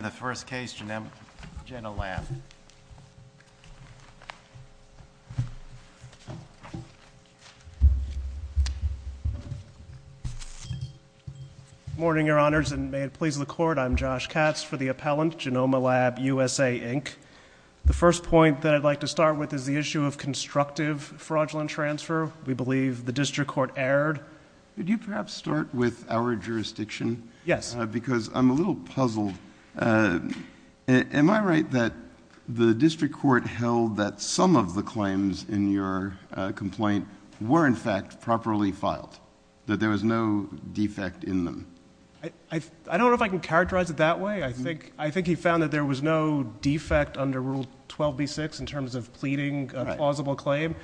In the first case, Genoma Lab. Morning, Your Honors, and may it please the Court, I'm Josh Katz for the appellant, Genoma Lab USA, Inc. The first point that I'd like to start with is the issue of constructive fraudulent transfer. We believe the District Court erred. Could you perhaps start with our jurisdiction? Yes. Because I'm a little puzzled. Am I right that the District Court held that some of the claims in your complaint were, in fact, properly filed? That there was no defect in them? I don't know if I can characterize it that way. I think he found that there was no defect under Rule 12b-6 in terms of pleading a plausible claim.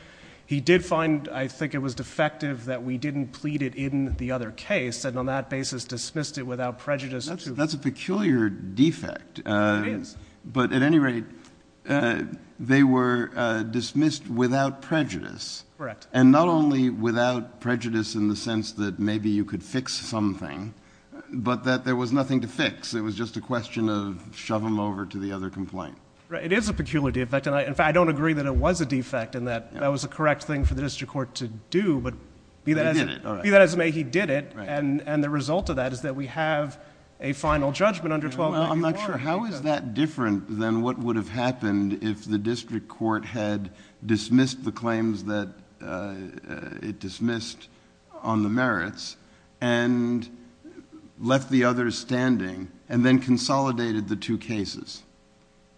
He did find, I think, it was defective that we didn't plead it in the other case. And on that basis, dismissed it without prejudice. That's a peculiar defect. It is. But at any rate, they were dismissed without prejudice. Correct. And not only without prejudice in the sense that maybe you could fix something, but that there was nothing to fix. It was just a question of shove them over to the other complaint. Right. It is a peculiar defect. In fact, I don't agree that it was a defect and that that was a correct thing for the District Court to do. But be that as it may, he did it. And the result of that is that we have a final judgment under 1294. I'm not sure. How is that different than what would have happened if the District Court had dismissed the claims that it dismissed on the merits and left the others standing and then consolidated the two cases?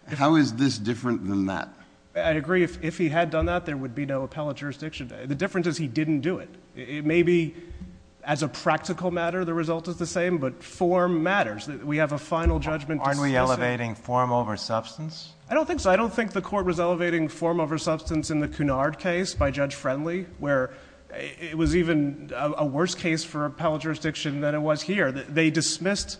How is this different than that? I agree. If he had done that, there would be no appellate jurisdiction. The difference is he didn't do it. It may be as a practical matter the result is the same, but form matters. We have a final judgment. Aren't we elevating form over substance? I don't think so. I don't think the Court was elevating form over substance in the Cunard case by Judge Friendly, where it was even a worse case for appellate jurisdiction than it was here. They dismissed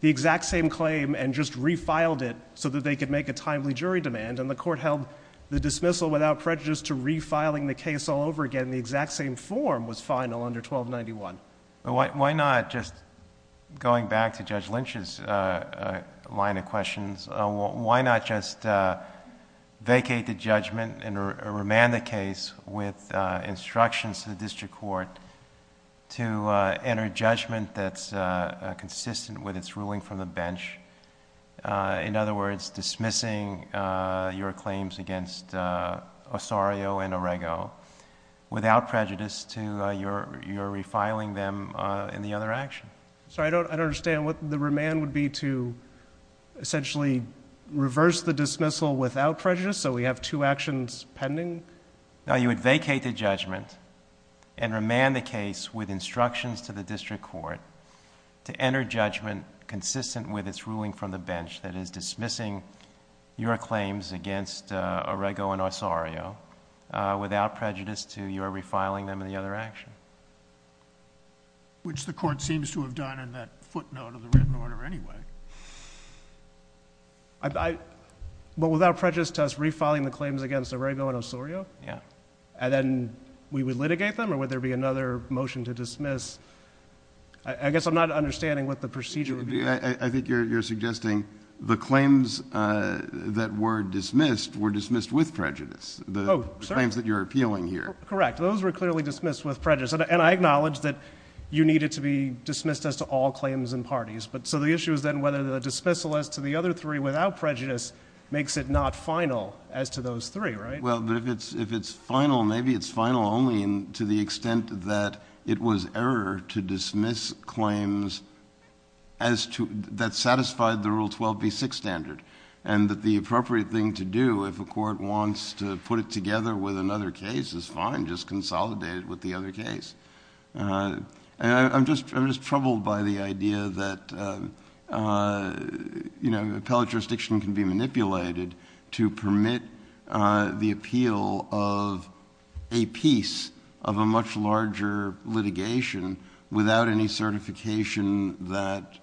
the exact same claim and just refiled it so that they could make a timely jury demand. And the Court held the dismissal without prejudice to refiling the case all over again in the exact same form was final under 1291. Why not, just going back to Judge Lynch's line of questions, why not just vacate the judgment and remand the case with instructions to the District Court to enter judgment that's consistent with its ruling from the bench? In other words, dismissing your claims against Osorio and Orego without prejudice to your refiling them in the other action. I don't understand. What the remand would be to essentially reverse the dismissal without prejudice so we have two actions pending? No, you would vacate the judgment and remand the case with instructions to the District Court to enter judgment consistent with its ruling from the bench that is dismissing your claims against Orego and Osorio without prejudice to your refiling them in the other action. Which the Court seems to have done in that footnote of the written order anyway. But without prejudice to us refiling the claims against Orego and Osorio? Yeah. And then we would litigate them or would there be another motion to dismiss? I guess I'm not understanding what the procedure would be. I think you're suggesting the claims that were dismissed were dismissed with prejudice. The claims that you're appealing here. Correct. Those were clearly dismissed with prejudice. And I acknowledge that you need it to be dismissed as to all claims and parties. So the issue is then whether the dismissal as to the other three without prejudice makes it not final as to those three, right? Well, if it's final, maybe it's final only to the extent that it was error to dismiss claims that satisfied the Rule 12b6 standard. And that the appropriate thing to do if a court wants to put it together with another case is fine. Just consolidate it with the other case. I'm just troubled by the idea that appellate jurisdiction can be manipulated to permit the appeal of a piece of a much larger litigation without any certification that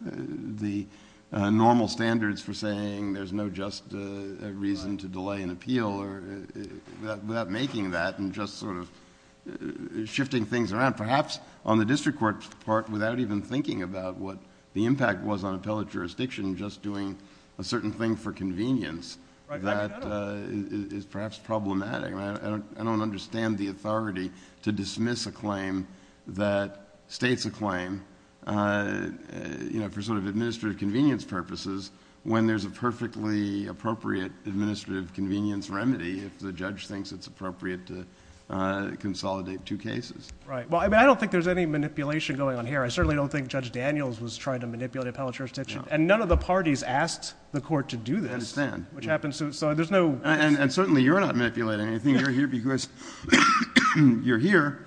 the normal standards for saying there's no just reason to delay an appeal without making that and just sort of shifting things around. Perhaps on the district court's part, without even thinking about what the impact was on appellate jurisdiction, just doing a certain thing for convenience that is perhaps problematic. I don't understand the authority to dismiss a claim that states a claim for sort of administrative convenience purposes when there's a perfectly appropriate administrative convenience remedy if the judge thinks it's appropriate to consolidate two cases. Right. Well, I don't think there's any manipulation going on here. I certainly don't think Judge Daniels was trying to manipulate appellate jurisdiction. And none of the parties asked the court to do this. I understand. Which happens to – so there's no – And certainly you're not manipulating anything. You're here because you're here.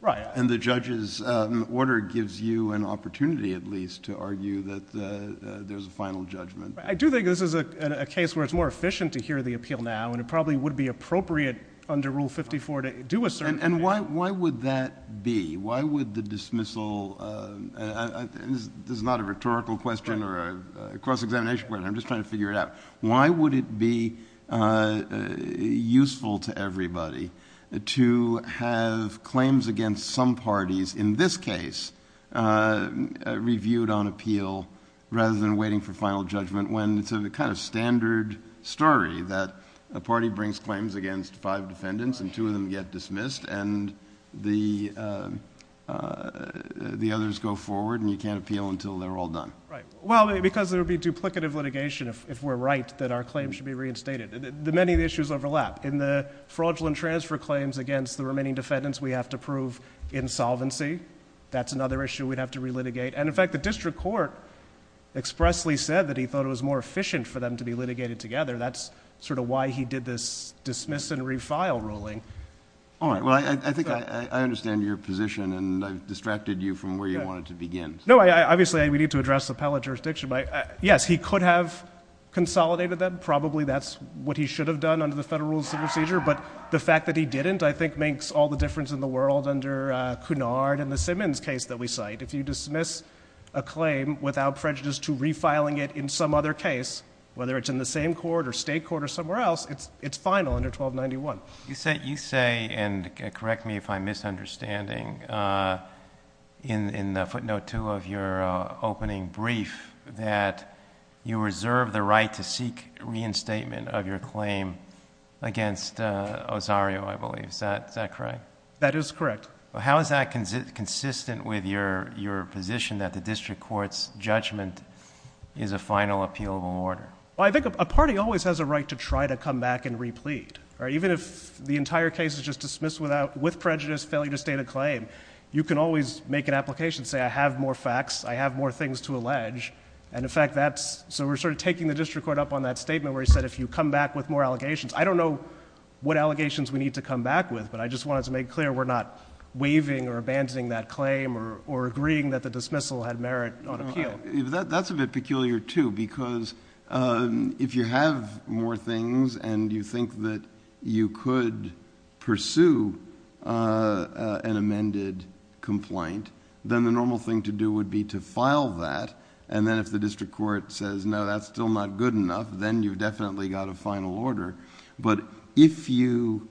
Right. And the judge's order gives you an opportunity at least to argue that there's a final judgment. I do think this is a case where it's more efficient to hear the appeal now, and it probably would be appropriate under Rule 54 to do a certain thing. And why would that be? Why would the dismissal – this is not a rhetorical question or a cross-examination question. I'm just trying to figure it out. Why would it be useful to everybody to have claims against some parties, in this case, reviewed on appeal rather than waiting for final judgment when it's a kind of standard story that a party brings claims against five defendants and two of them get dismissed and the others go forward and you can't appeal until they're all done? Right. Well, because there would be duplicative litigation if we're right that our claims should be reinstated. Many of the issues overlap. In the fraudulent transfer claims against the remaining defendants, we have to prove insolvency. That's another issue we'd have to relitigate. And, in fact, the district court expressly said that he thought it was more efficient for them to be litigated together. That's sort of why he did this dismiss and refile ruling. All right. Well, I think I understand your position, and I've distracted you from where you wanted to begin. No, obviously, we need to address appellate jurisdiction. Yes, he could have consolidated them. Probably that's what he should have done under the Federal Rules of Procedure. But the fact that he didn't, I think, makes all the difference in the world under Cunard and the Simmons case that we cite. If you dismiss a claim without prejudice to refiling it in some other case, whether it's in the same court or state court or somewhere else, it's final under 1291. You say, and correct me if I'm misunderstanding, in the footnote 2 of your opening brief that you reserve the right to seek reinstatement of your claim against Osario, I believe. Is that correct? That is correct. How is that consistent with your position that the district court's judgment is a final appealable order? I think a party always has a right to try to come back and replete. Even if the entire case is just dismissed with prejudice, failure to state a claim, you can always make an application, say I have more facts, I have more things to allege. In fact, that's... so we're sort of taking the district court up on that statement where he said if you come back with more allegations. I don't know what allegations we need to come back with, but I just wanted to make clear we're not waiving or abandoning that claim or agreeing that the dismissal had merit on appeal. That's a bit peculiar too because if you have more things and you think that you could pursue an amended complaint, then the normal thing to do would be to file that. Then if the district court says no, that's still not good enough, then you've definitely got a final order. But if you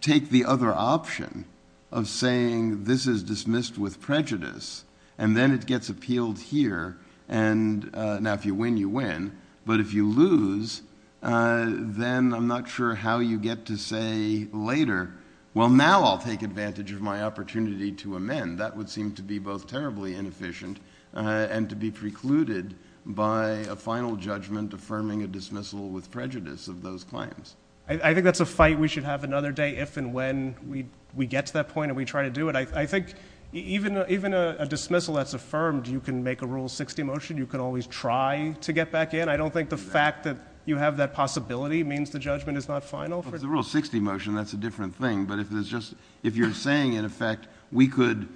take the other option of saying this is dismissed with prejudice and then it gets appealed here, and now if you win, you win. But if you lose, then I'm not sure how you get to say later, well, now I'll take advantage of my opportunity to amend. That would seem to be both terribly inefficient and to be precluded by a final judgment affirming a dismissal with prejudice of those claims. I think that's a fight we should have another day if and when we get to that point and we try to do it. I think even a dismissal that's affirmed, you can make a Rule 60 motion. You can always try to get back in. I don't think the fact that you have that possibility means the judgment is not final. With the Rule 60 motion, that's a different thing. But if you're saying, in effect, we could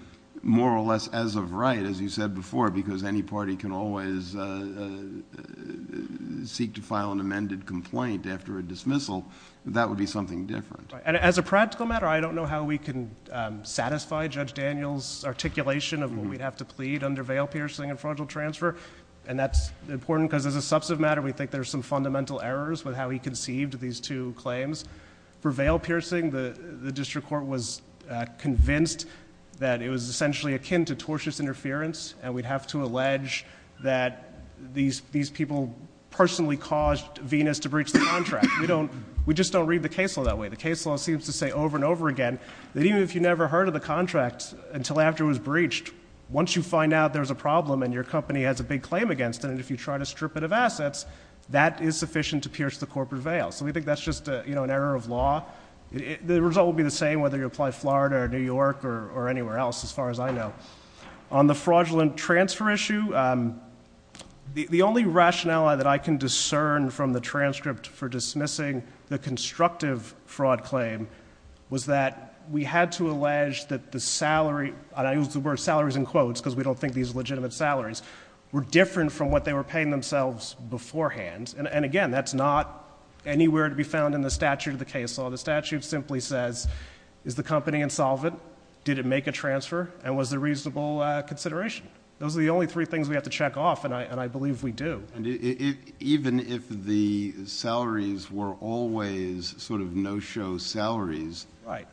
more or less as of right, as you said before, because any party can always seek to file an amended complaint after a dismissal, that would be something different. As a practical matter, I don't know how we can satisfy Judge Daniel's articulation of what we'd have to plead under veil-piercing and fraudulent transfer. And that's important because as a substantive matter, we think there's some fundamental errors with how he conceived these two claims. For veil-piercing, the district court was convinced that it was essentially akin to tortious interference. And we'd have to allege that these people personally caused Venus to breach the contract. We just don't read the case law that way. The case law seems to say over and over again that even if you never heard of the contract until after it was breached, once you find out there's a problem and your company has a big claim against it, and if you try to strip it of assets, that is sufficient to pierce the corporate veil. So we think that's just an error of law. The result will be the same whether you apply Florida or New York or anywhere else, as far as I know. On the fraudulent transfer issue, the only rationale that I can discern from the transcript for dismissing the constructive fraud claim was that we had to allege that the salary, and I use the word salaries in quotes because we don't think these are legitimate salaries, were different from what they were paying themselves beforehand. And again, that's not anywhere to be found in the statute of the case law. The statute simply says, is the company insolvent? Did it make a transfer? And was there reasonable consideration? Those are the only three things we have to check off, and I believe we do. Even if the salaries were always sort of no-show salaries,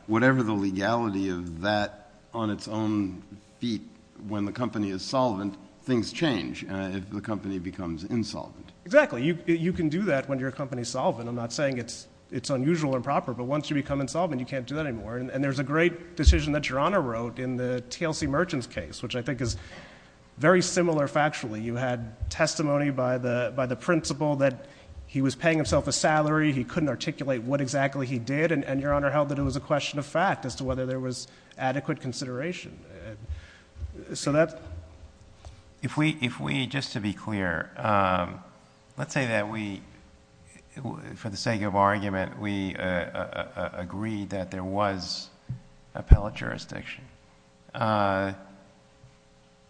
whatever the legality of that on its own feet, when the company is solvent, things change if the company becomes insolvent. Exactly. You can do that when your company is solvent. I'm not saying it's unusual or improper, but once you become insolvent, you can't do that anymore. And there's a great decision that Your Honor wrote in the TLC Merchants case, which I think is very similar factually. You had testimony by the principal that he was paying himself a salary, he couldn't articulate what exactly he did, and Your Honor held that it was a question of fact as to whether there was adequate consideration. So that... If we, just to be clear, let's say that we, for the sake of argument, we agree that there was appellate jurisdiction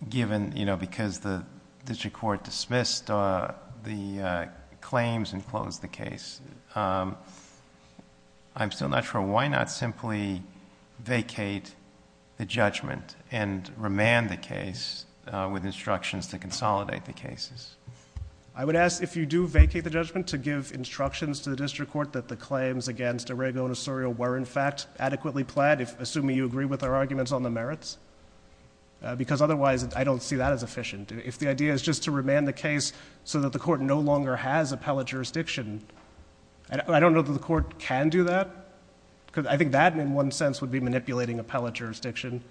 given, you know, because the district court dismissed the claims and closed the case. I'm still not sure why not simply vacate the judgment and remand the case with instructions to consolidate the cases? I would ask, if you do vacate the judgment, to give instructions to the district court that the claims against Arago and Osorio were, in fact, adequately planned, assuming you agree with our arguments on the merits. Because otherwise, I don't see that as efficient. If the idea is just to remand the case so that the court no longer has appellate jurisdiction, I don't know that the court can do that, because I think that, in one sense, would be manipulating appellate jurisdiction,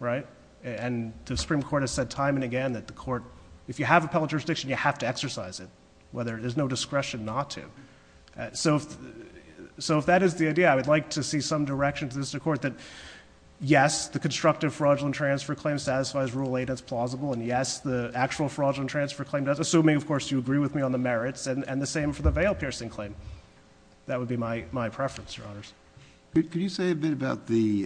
right? And the Supreme Court has said time and again that the court, if you have appellate jurisdiction, you have to exercise it, whether there's no discretion not to. So if that is the idea, I would like to see some direction to the district court that, yes, the constructive fraudulent transfer claim satisfies Rule 8 as plausible, and yes, the actual fraudulent transfer claim does, assuming, of course, you agree with me on the merits, and the same for the veil-piercing claim. That would be my preference, Your Honors. Could you say a bit about the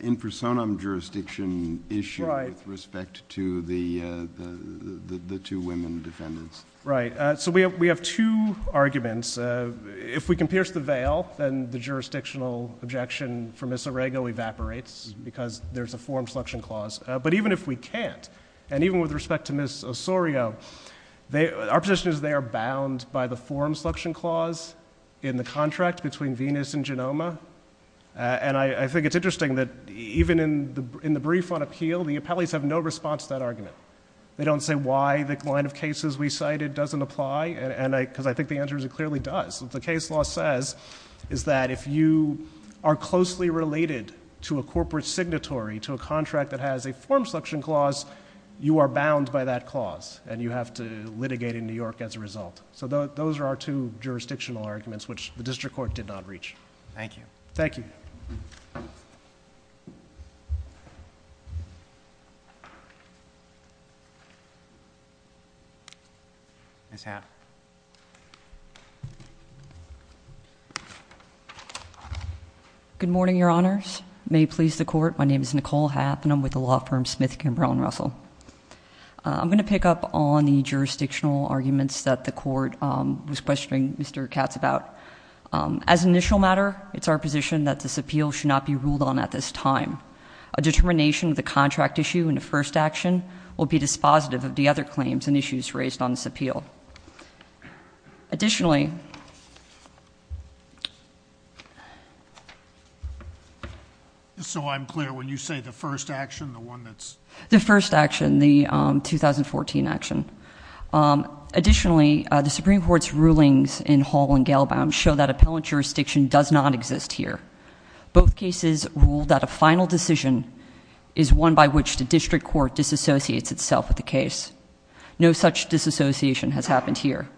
in-personam jurisdiction issue with respect to the two women defendants? Right. So we have two arguments. If we can pierce the veil, then the jurisdictional objection for Ms. Arago evaporates, because there's a forum selection clause. But even if we can't, and even with respect to Ms. Osorio, our position is they are bound by the forum selection clause in the contract between Venus and Genoma. And I think it's interesting that even in the brief on appeal, the appellees have no response to that argument. They don't say why the line of cases we cited doesn't apply, because I think the answer is it clearly does. What the case law says is that if you are closely related to a corporate signatory, to a contract that has a forum selection clause, you are bound by that clause, and you have to litigate in New York as a result. So those are our two jurisdictional arguments, which the district court did not reach. Thank you. Thank you. Ms. Hamm. Good morning, Your Honors. May it please the court, my name is Nicole Hamm, and I'm with the law firm Smith, Kimbrough & Russell. I'm going to pick up on the jurisdictional arguments that the court was questioning Mr. Katz about. As an initial matter, it's our position that this appeal should not be ruled on at this time. A determination of the contract issue in the first action will be dispositive of the other claims and issues raised on this appeal. Additionally... So I'm clear, when you say the first action, the one that's... The first action, the 2014 action. Additionally, the Supreme Court's rulings in Hall and Galebound show that appellant jurisdiction does not exist here. Both cases rule that a final decision is one by which the district court disassociates itself with the case. No such disassociation has happened here.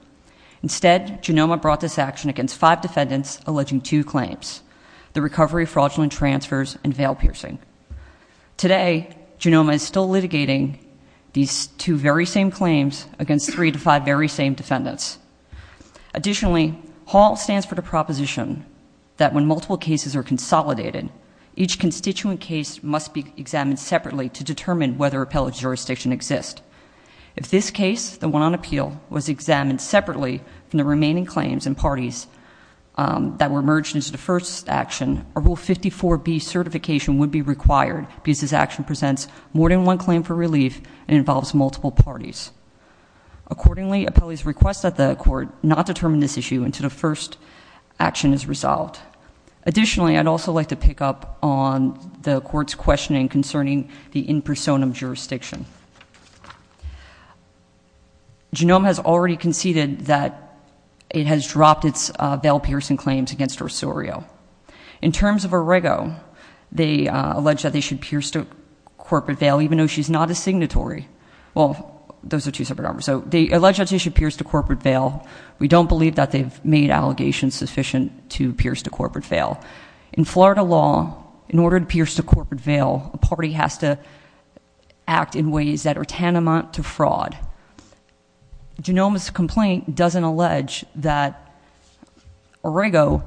Instead, GENOMA brought this action against five defendants alleging two claims, the recovery of fraudulent transfers and veil piercing. Today, GENOMA is still litigating these two very same claims against three to five very same defendants. Additionally, Hall stands for the proposition that when multiple cases are consolidated, each constituent case must be examined separately to determine whether appellate jurisdiction exists. If this case, the one on appeal, was examined separately from the remaining claims and parties that were merged into the first action, a Rule 54B certification would be required, because this action presents more than one claim for relief and involves multiple parties. Accordingly, appellees request that the court not determine this issue until the first action is resolved. Additionally, I'd also like to pick up on the court's questioning concerning the in personam jurisdiction. GENOMA has already conceded that it has dropped its veil piercing claims against Rosario. In terms of Arego, they allege that they should pierce the corporate veil, even though she's not a signatory. Well, those are two separate numbers. So they allege that she should pierce the corporate veil. We don't believe that they've made allegations sufficient to pierce the corporate veil. In Florida law, in order to pierce the corporate veil, a party has to act in ways that are tantamount to fraud. GENOMA's complaint doesn't allege that Arego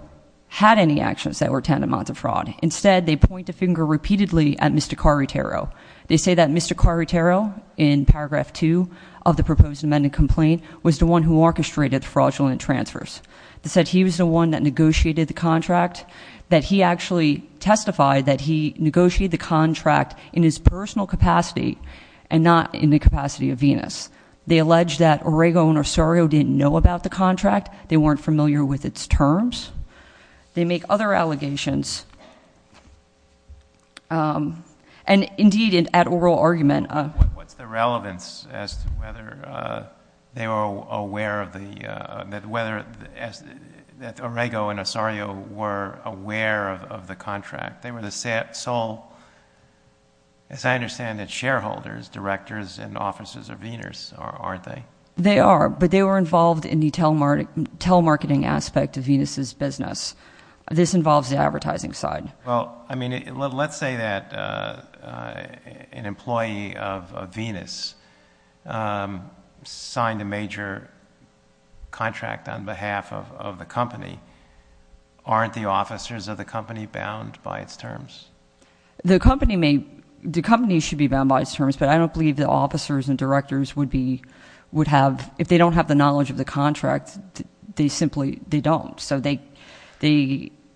had any actions that were tantamount to fraud. Instead, they point the finger repeatedly at Mr. Caritero. They say that Mr. Caritero, in paragraph two of the proposed amendment complaint, was the one who orchestrated the fraudulent transfers. They said he was the one that negotiated the contract. That he actually testified that he negotiated the contract in his personal capacity and not in the capacity of Venus. They allege that Arego and Rosario didn't know about the contract. They weren't familiar with its terms. They make other allegations. And, indeed, at oral argument. What's the relevance as to whether they were aware that Arego and Rosario were aware of the contract? They were the sole, as I understand it, shareholders, directors, and officers of Venus, aren't they? They are, but they were involved in the telemarketing aspect of Venus' business. This involves the advertising side. Well, I mean, let's say that an employee of Venus signed a major contract on behalf of the company. Aren't the officers of the company bound by its terms? The company should be bound by its terms, but I don't believe the officers and directors would have, if they don't have the knowledge of the contract, they simply don't.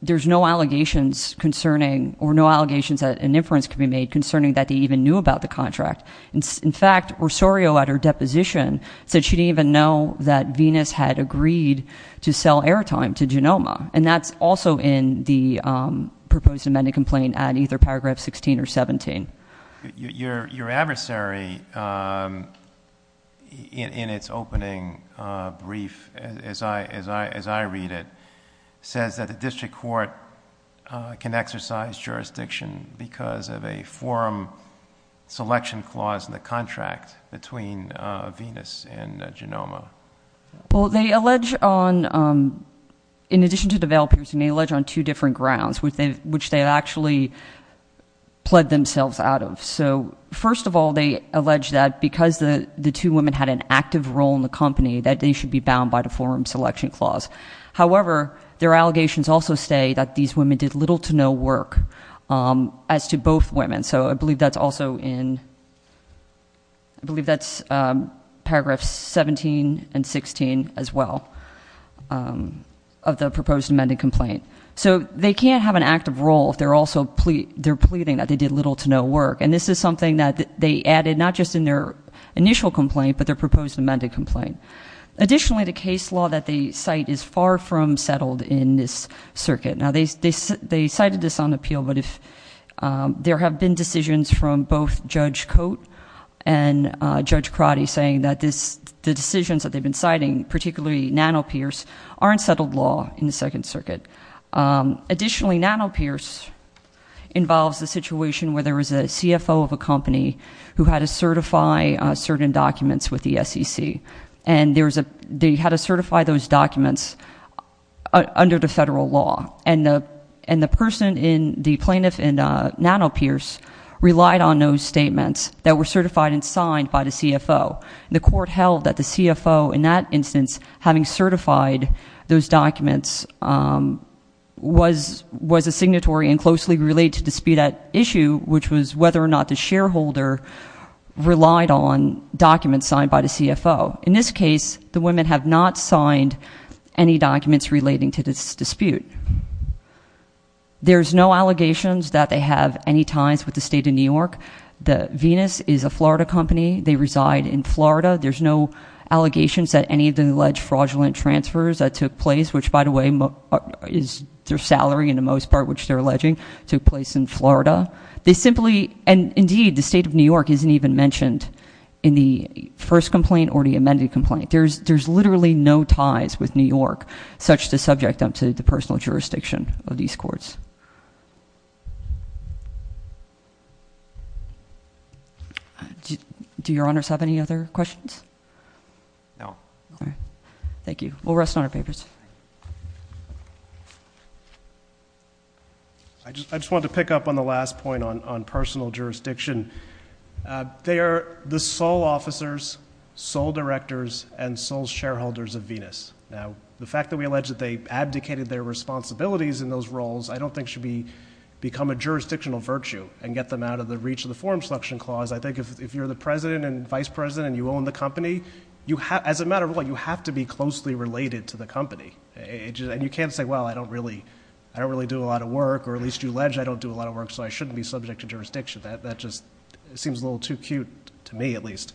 There's no allegations that an inference could be made concerning that they even knew about the contract. In fact, Rosario, at her deposition, said she didn't even know that Venus had agreed to sell airtime to Genoma. And that's also in the proposed amended complaint at either paragraph 16 or 17. Your adversary, in its opening brief, as I read it, says that the district court can exercise jurisdiction because of a forum selection clause in the contract between Venus and Genoma. Well, they allege on, in addition to developers, they allege on two different grounds, which they actually pled themselves out of. So first of all, they allege that because the two women had an active role in the company, that they should be bound by the forum selection clause. However, their allegations also say that these women did little to no work as to both women. So I believe that's also in, I believe that's paragraphs 17 and 16 as well of the proposed amended complaint. So they can't have an active role if they're also pleading that they did little to no work. And this is something that they added not just in their initial complaint, but their proposed amended complaint. Additionally, the case law that they cite is far from settled in this circuit. Now, they cited this on appeal, but there have been decisions from both Judge Cote and Judge Crotty saying that the decisions that they've been citing, particularly Nano-Pierce, aren't settled law in the Second Circuit. Additionally, Nano-Pierce involves a situation where there was a CFO of a company who had to certify certain documents with the SEC. And they had to certify those documents under the federal law. And the person in the plaintiff in Nano-Pierce relied on those statements that were certified and signed by the CFO. And the court held that the CFO, in that instance, having certified those documents, was a signatory and closely related to dispute that issue, which was whether or not the shareholder relied on documents signed by the CFO. In this case, the women have not signed any documents relating to this dispute. There's no allegations that they have any ties with the state of New York. The Venus is a Florida company. They reside in Florida. There's no allegations that any of the alleged fraudulent transfers that took place, which, by the way, is their salary in the most part, which they're alleging, took place in Florida. And indeed, the state of New York isn't even mentioned in the first complaint or the amended complaint. There's literally no ties with New York such to subject them to the personal jurisdiction of these courts. Do your honors have any other questions? No. All right. Thank you. We'll rest on our papers. I just wanted to pick up on the last point on personal jurisdiction. They are the sole officers, sole directors, and sole shareholders of Venus. Now, the fact that we allege that they abdicated their responsibilities in those roles, I don't think should become a jurisdictional virtue and get them out of the reach of the Forum Selection Clause. I think if you're the president and vice president and you own the company, as a matter of law, you have to be closely related to the company. And you can't say, well, I don't really do a lot of work, or at least you allege I don't do a lot of work, so I shouldn't be subject to jurisdiction. That just seems a little too cute, to me at least.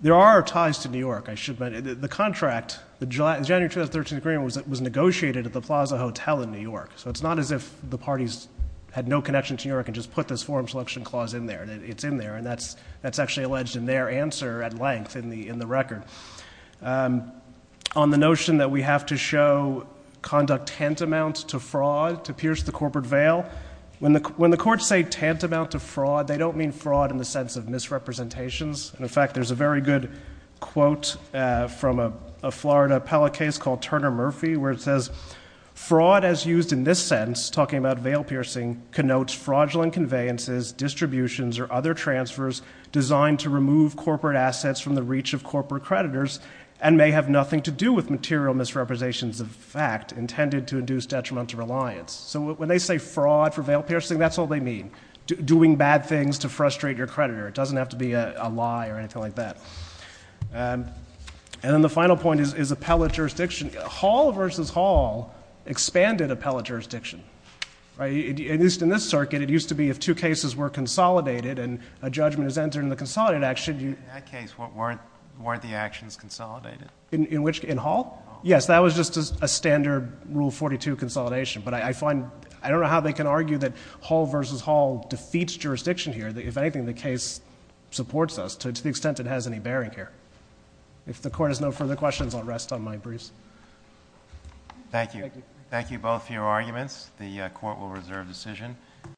There are ties to New York. The contract, the January 2013 agreement, was negotiated at the Plaza Hotel in New York. So it's not as if the parties had no connection to New York and just put this Forum Selection Clause in there. It's in there, and that's actually alleged in their answer at length in the record. On the notion that we have to show conduct tantamount to fraud to pierce the corporate veil, when the courts say tantamount to fraud, they don't mean fraud in the sense of misrepresentations. In fact, there's a very good quote from a Florida appellate case called Turner Murphy, where it says, fraud as used in this sense, talking about veil piercing, connotes fraudulent conveyances, distributions, or other transfers designed to remove corporate assets from the reach of corporate creditors and may have nothing to do with material misrepresentations of fact intended to induce detrimental reliance. So when they say fraud for veil piercing, that's all they mean, doing bad things to frustrate your creditor. It doesn't have to be a lie or anything like that. And then the final point is appellate jurisdiction. Hall v. Hall expanded appellate jurisdiction. In this circuit, it used to be if two cases were consolidated and a judgment is entered in the consolidated action, you— In that case, weren't the actions consolidated? In which—in Hall? Yes, that was just a standard Rule 42 consolidation. But I find—I don't know how they can argue that Hall v. Hall defeats jurisdiction here. If anything, the case supports us to the extent it has any bearing here. If the Court has no further questions, I'll rest on my briefs. Thank you. Thank you. Thank you both for your arguments. The Court will reserve decision.